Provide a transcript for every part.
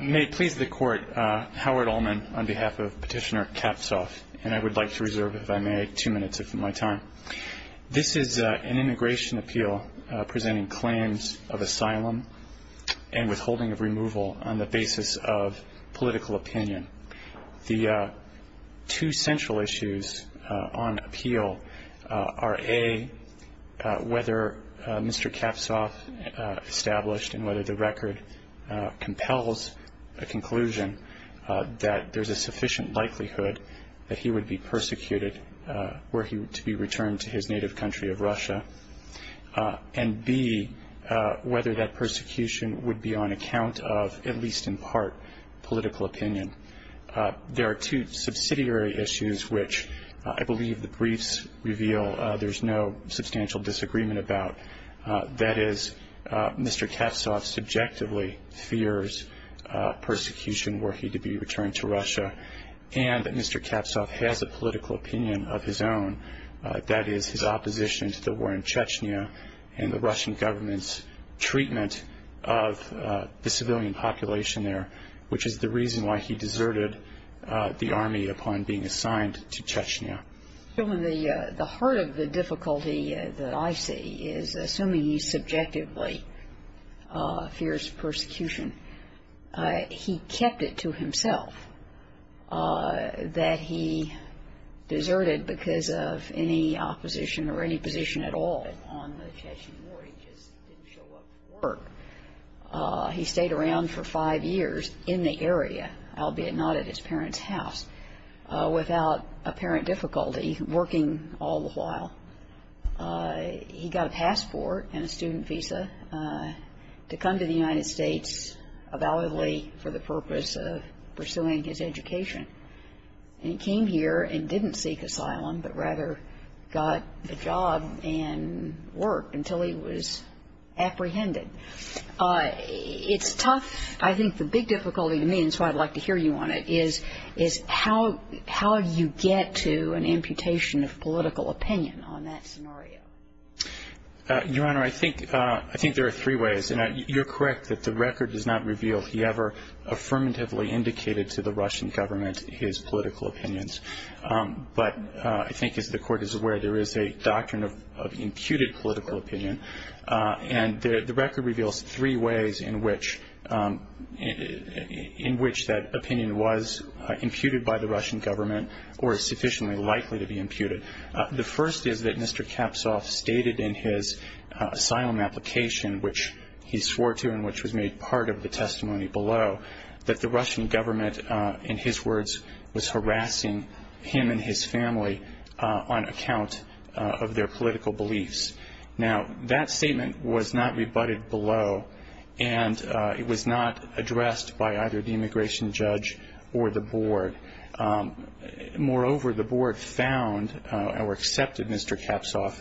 May it please the Court, Howard Ullman on behalf of Petitioner Kapstov and I would like to reserve if I may two minutes of my time. This is an immigration appeal presenting claims of asylum and withholding of removal on the basis of political opinion. The two central issues on appeal are A, whether Mr. Kapstov established and whether the record compels a conclusion that there's a sufficient likelihood that he would be persecuted were he to be returned to his native country of Russia and B, whether that persecution would be on account of at least in part political opinion. There are two subsidiary issues which I believe the briefs reveal there's no substantial disagreement about. That is Mr. Kapstov subjectively fears persecution were he to be returned to Russia and that Mr. Kapstov has a political opinion of his own, that is his opposition to the war in Chechnya and the Russian government's civilian population there, which is the reason why he deserted the army upon being assigned to Chechnya. The heart of the difficulty that I see is assuming he subjectively fears persecution. He kept it to himself that he deserted because of any opposition or any position at all on the part of the Russian government. He stayed around for five years in the area, albeit not at his parents' house, without apparent difficulty, working all the while. He got a passport and a student visa to come to the United States validly for the purpose of pursuing his education. And he came here and didn't seek asylum, but rather got a job and worked until he was apprehended. It's tough. I think the big difficulty to me, and that's why I'd like to hear you on it, is how you get to an imputation of political opinion on that scenario. Your Honor, I think there are three ways. You're correct that the record does not reveal he ever affirmatively indicated to the Russian government his political opinions. But I think as the Court is aware, there is a doctrine of imputed political opinion. And the record reveals three ways in which that opinion was imputed by the Russian government or is sufficiently likely to be imputed. The first is that Mr. Kapshov stated in his asylum application, which he swore to and which was made part of the testimony below, that the Russian government, in his words, was harassing him and his family on account of their political beliefs. Now, that statement was not rebutted below, and it was not addressed by either the immigration judge or the Board. Moreover, the Board found or accepted Mr. Kapshov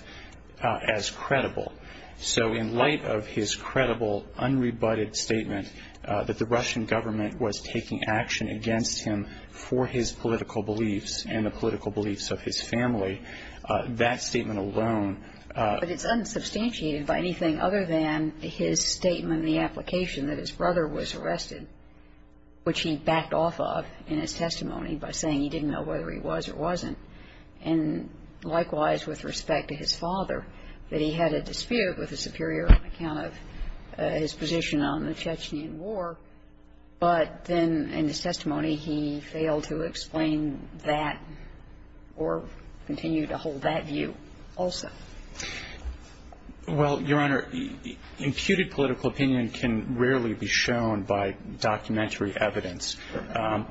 as credible. So in light of his credible, unrebutted statement that the Russian government was taking action against him for his political beliefs and the political beliefs of his family, that statement alone But it's unsubstantiated by anything other than his statement in the application that his brother was arrested, which he backed off of in his testimony by saying he didn't know whether he was or wasn't. And likewise, with respect to his father, that he had a superior account of his position on the Chechen War. But then in his testimony, he failed to explain that or continue to hold that view also. Well, Your Honor, imputed political opinion can rarely be shown by documentary evidence. And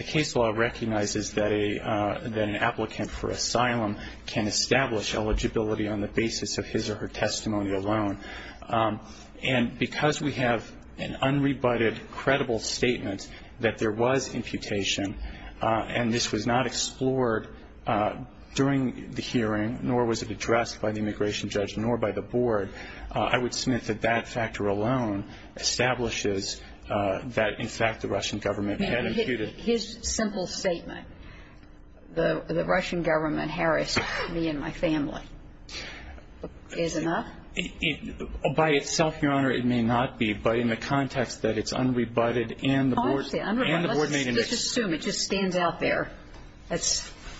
the case law recognizes that an applicant for asylum can establish eligibility on the basis of his or her testimony alone. And because we have an unrebutted, credible statement that there was imputation, and this was not explored during the hearing, nor was it addressed by the immigration judge, nor by the Board, I would submit that that factor alone establishes that, in fact, the Russian government had imputed His simple statement, the Russian government harassed me and my family, is enough? By itself, Your Honor, it may not be. But in the context that it's unrebutted and the Board made an Let's assume it just stands out there.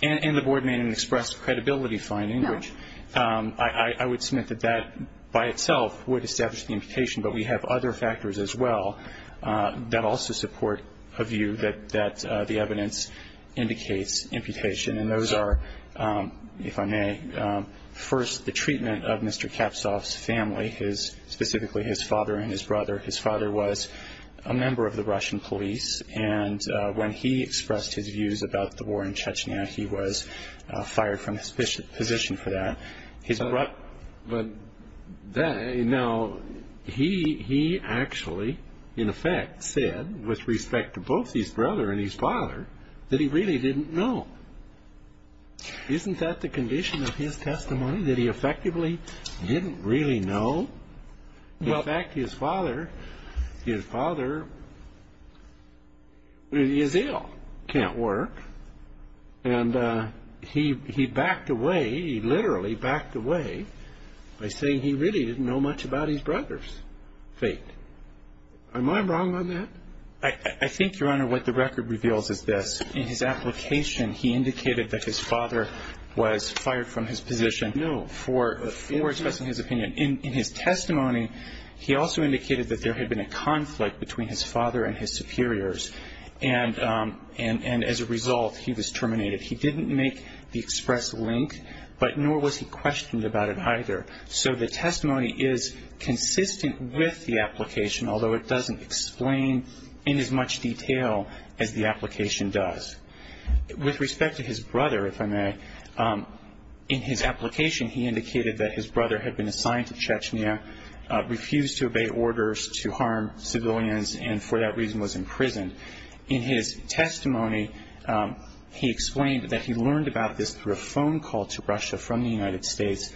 And the Board made an express credibility finding, which I would submit that that by itself would establish the imputation. But we have other factors as well that also support a view that the evidence indicates imputation. And those are, if I may, first, the treatment of Mr. Kapsov's family, specifically his father and his brother. His father was a member of the Russian police. And when he expressed his views about the war in Chechnya, he was fired from his position for that. Now, he actually, in effect, said, with respect to both his brother and his father, that he really didn't know. Isn't that the condition of his testimony, that he effectively didn't really know? In fact, his father is ill, can't work. And he backed away, he literally backed away, by saying he really didn't know much about his brother's fate. Am I wrong on that? I think, Your Honor, what the record reveals is this. In his application, he indicated that his father was fired from his position for expressing his opinion. In his testimony, he also indicated that there had been a conflict between his father and his superiors. And as a result, he was terminated. He didn't make the express link, but nor was he questioned about it either. So the testimony is consistent with the application, although it doesn't explain in as much detail as the application does. With respect to his brother, if I may, in his application, he indicated that his brother had been assigned to Chechnya, refused to obey orders to harm civilians, and for that reason was imprisoned. In his testimony, he explained that he learned about this through a phone call to Russia from the United States,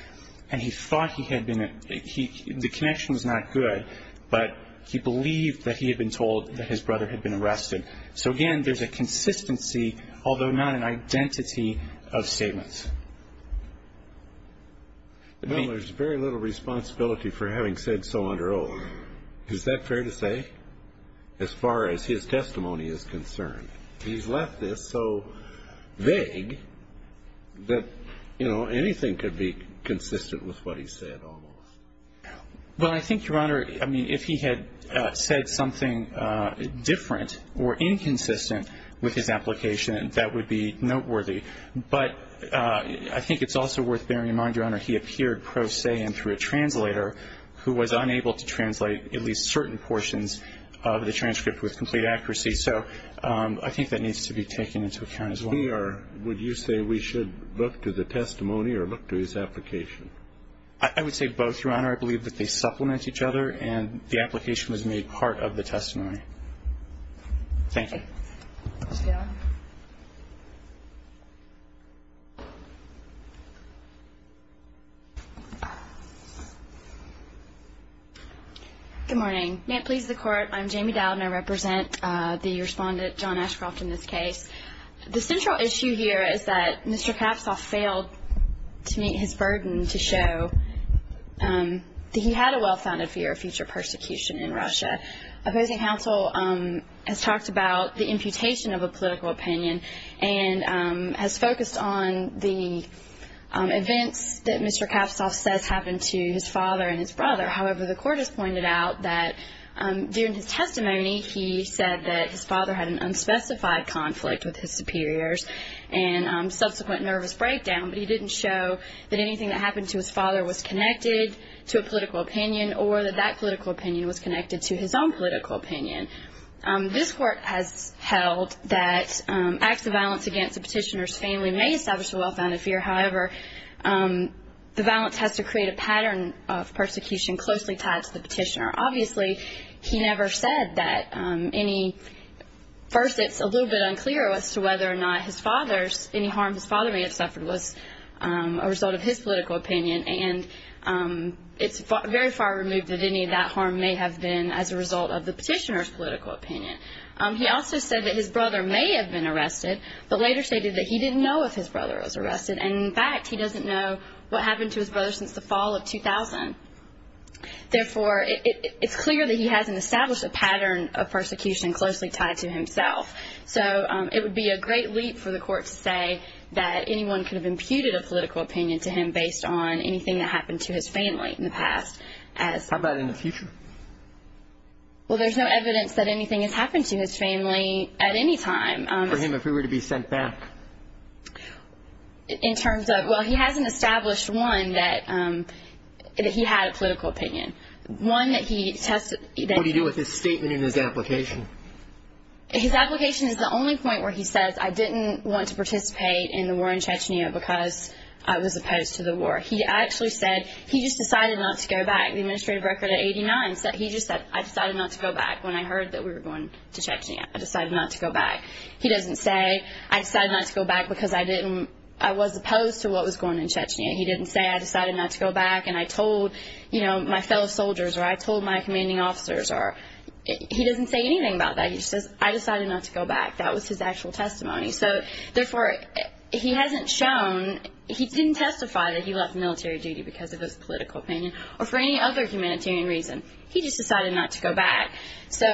and he thought he had been at the connection was not good, but he believed that he had been told that his brother had been arrested. So again, there's a consistency, although not an identity, of statements. No, there's very little responsibility for having said so under oath. Is that fair to say, as far as his testimony is concerned? He's left this so vague that, you know, anything could be consistent with what he said almost. Well, I think, Your Honor, I mean, if he had said something different or inconsistent with his application, that would be noteworthy. But I think it's also worth bearing in mind, Your Honor, he appeared pro se and through a translator who was unable to translate at least certain portions of the transcript with complete accuracy. So I think that needs to be taken into account as well. We are – would you say we should look to the testimony or look to his application? I would say both, Your Honor. I believe that they supplement each other, and the application was made part of the testimony. Thank you. Good morning. May it please the Court, I'm Jamie Dowd, and I represent the respondent, John Ashcroft, in this case. The central issue here is that Mr. Knafsoff failed to meet his burden to show that he had a well-founded fear of future persecution in Russia. Opposing counsel has talked about the imputation of a political opinion and has focused on the events that Mr. Knafsoff says happened to his father and his brother. However, the Court has pointed out that during his testimony, he said that his father had an unspecified conflict with his superiors and subsequent nervous breakdown, but he didn't show that anything that happened to his father was connected to a political opinion or that that political opinion was connected to his own political opinion. This Court has held that acts of violence against a petitioner's family may establish a well-founded fear. However, the violence has to create a pattern of persecution closely tied to the petitioner. Obviously, he never said that any – first, it's a little bit unclear as to whether or not his father's – any harm his father may have suffered was a result of his political opinion, and it's very far removed that any of that harm may have been as a result of the petitioner's political opinion. He also said that his brother may have been arrested, but later stated that he didn't know if his brother was arrested, and, in fact, he doesn't know what happened to his brother since the fall of 2000. Therefore, it's clear that he hasn't established a pattern of persecution closely tied to himself. So it would be a great leap for the Court to say that anyone could have imputed a political opinion to him based on anything that happened to his family in the past as – How about in the future? Well, there's no evidence that anything has happened to his family at any time. For him, if he were to be sent back? In terms of – well, he hasn't established, one, that he had a political opinion. One that he tested – What do you do with his statement and his application? His application is the only point where he says, I didn't want to participate in the war in Chechnya because I was opposed to the war. He actually said he just decided not to go back. The administrative record at 89 said he just said, I decided not to go back when I heard that we were going to Chechnya. I decided not to go back. He doesn't say, I decided not to go back because I didn't – I was opposed to what was going on in Chechnya. He didn't say, I decided not to go back and I told, you know, my fellow soldiers, or I told my commanding officers, or – he doesn't say anything about that. He just says, I decided not to go back. That was his actual testimony. So, therefore, he hasn't shown – he didn't testify that he left military duty because of his political opinion or for any other humanitarian reason. He just decided not to go back. So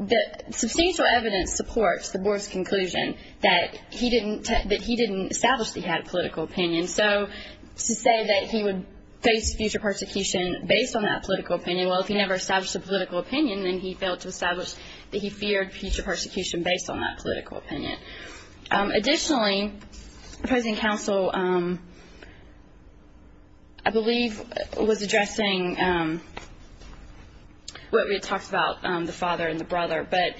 the substantial evidence supports the board's conclusion that he didn't establish that he had a political opinion. So to say that he would face future persecution based on that political opinion, well, if he never established a political opinion, then he failed to establish that he feared future persecution based on that political opinion. Additionally, the opposing counsel, I believe, was addressing what we had talked about, the father and the brother, but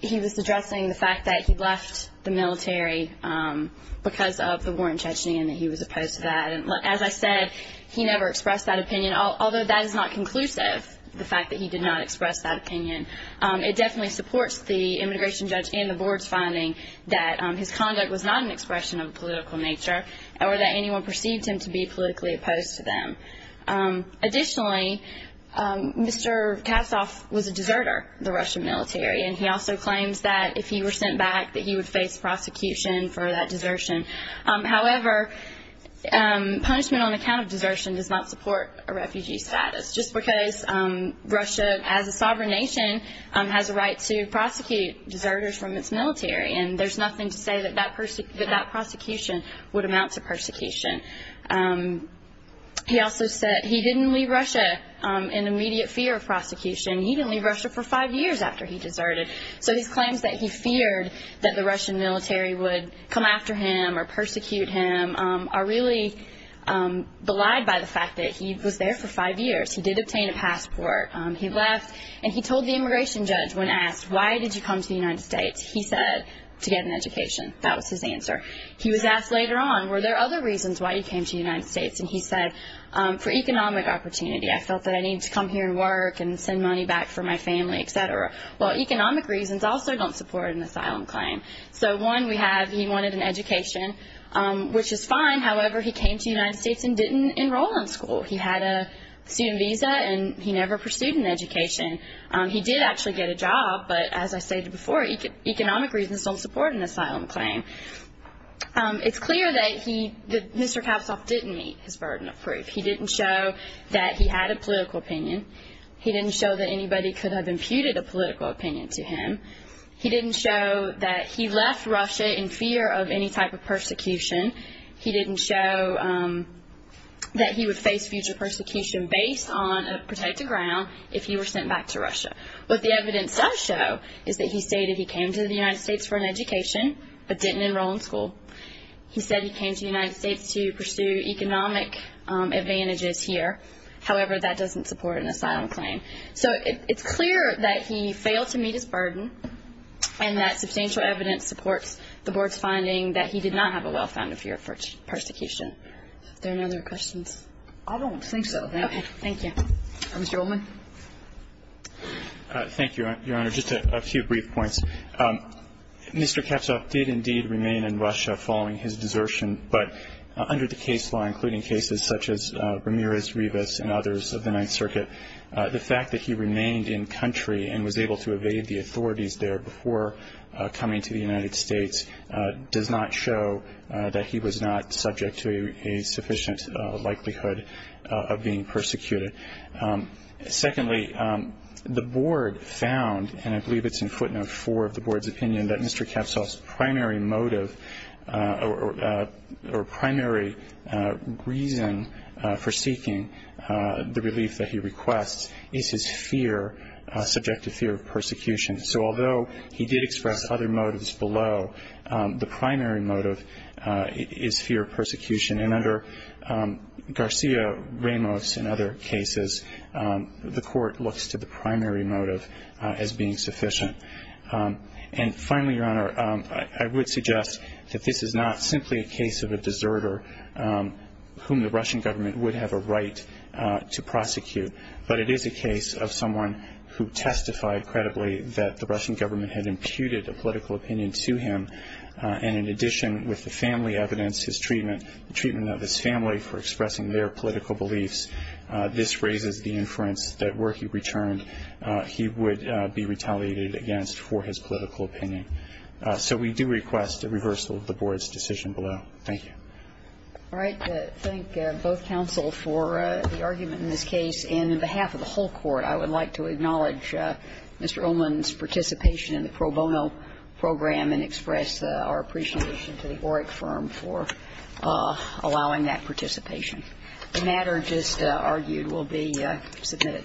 he was addressing the fact that he left the military because of the war in Chechnya and that he was opposed to that. As I said, he never expressed that opinion, although that is not conclusive, the fact that he did not express that opinion. It definitely supports the immigration judge and the board's finding that his conduct was not an expression of a political nature or that anyone perceived him to be politically opposed to them. Additionally, Mr. Kassoff was a deserter, the Russian military, and he also claims that if he were sent back that he would face prosecution for that desertion. However, punishment on account of desertion does not support a refugee status, just because Russia, as a sovereign nation, has a right to prosecute deserters from its military, and there's nothing to say that that prosecution would amount to persecution. He also said he didn't leave Russia in immediate fear of prosecution. He didn't leave Russia for five years after he deserted, so his claims that he feared that the Russian military would come after him or persecute him are really belied by the fact that he was there for five years. He did obtain a passport. He left, and he told the immigration judge when asked, why did you come to the United States? He said, to get an education. That was his answer. He was asked later on, were there other reasons why you came to the United States? And he said, for economic opportunity. I felt that I needed to come here and work and send money back for my family, et cetera. Well, economic reasons also don't support an asylum claim. So, one, we have he wanted an education, which is fine. However, he came to the United States and didn't enroll in school. He had a student visa, and he never pursued an education. He did actually get a job, but as I stated before, economic reasons don't support an asylum claim. It's clear that Mr. Kapshoff didn't meet his burden of proof. He didn't show that he had a political opinion. He didn't show that anybody could have imputed a political opinion to him. He didn't show that he left Russia in fear of any type of persecution. He didn't show that he would face future persecution based on a protected ground if he were sent back to Russia. What the evidence does show is that he stated he came to the United States for an education but didn't enroll in school. He said he came to the United States to pursue economic advantages here. However, that doesn't support an asylum claim. So, it's clear that he failed to meet his burden and that substantial evidence supports the Board's finding that he did not have a well-founded fear of persecution. Are there any other questions? I don't think so. Okay. Thank you. Mr. Ullman? Thank you, Your Honor. Just a few brief points. Mr. Kapshoff did indeed remain in Russia following his desertion, but under the case law, including cases such as Ramirez-Rivas and others of the Ninth Circuit, the fact that he remained in country and was able to evade the authorities there before coming to the United States does not show that he was not subject to a sufficient likelihood of being persecuted. Secondly, the Board found, and I believe it's in footnote four of the Board's opinion, that Mr. Kapshoff's primary motive or primary reason for seeking the relief that he requests is his fear, subjective fear of persecution. So, although he did express other motives below, the primary motive is fear of persecution. And under Garcia-Ramos and other cases, the court looks to the primary motive as being sufficient. And finally, Your Honor, I would suggest that this is not simply a case of a deserter whom the Russian government would have a right to prosecute, but it is a case of someone who testified credibly that the Russian government had imputed a political opinion to him. And in addition, with the family evidence, his treatment, the treatment of his family for expressing their political beliefs, this raises the inference that were he returned, he would be retaliated against for his political opinion. So we do request a reversal of the Board's decision below. Thank you. All right. Thank both counsel for the argument in this case. And on behalf of the whole Court, I would like to acknowledge Mr. Ullman's participation in the pro bono program and express our appreciation to the OREC firm for allowing that participation. The matter just argued will be submitted.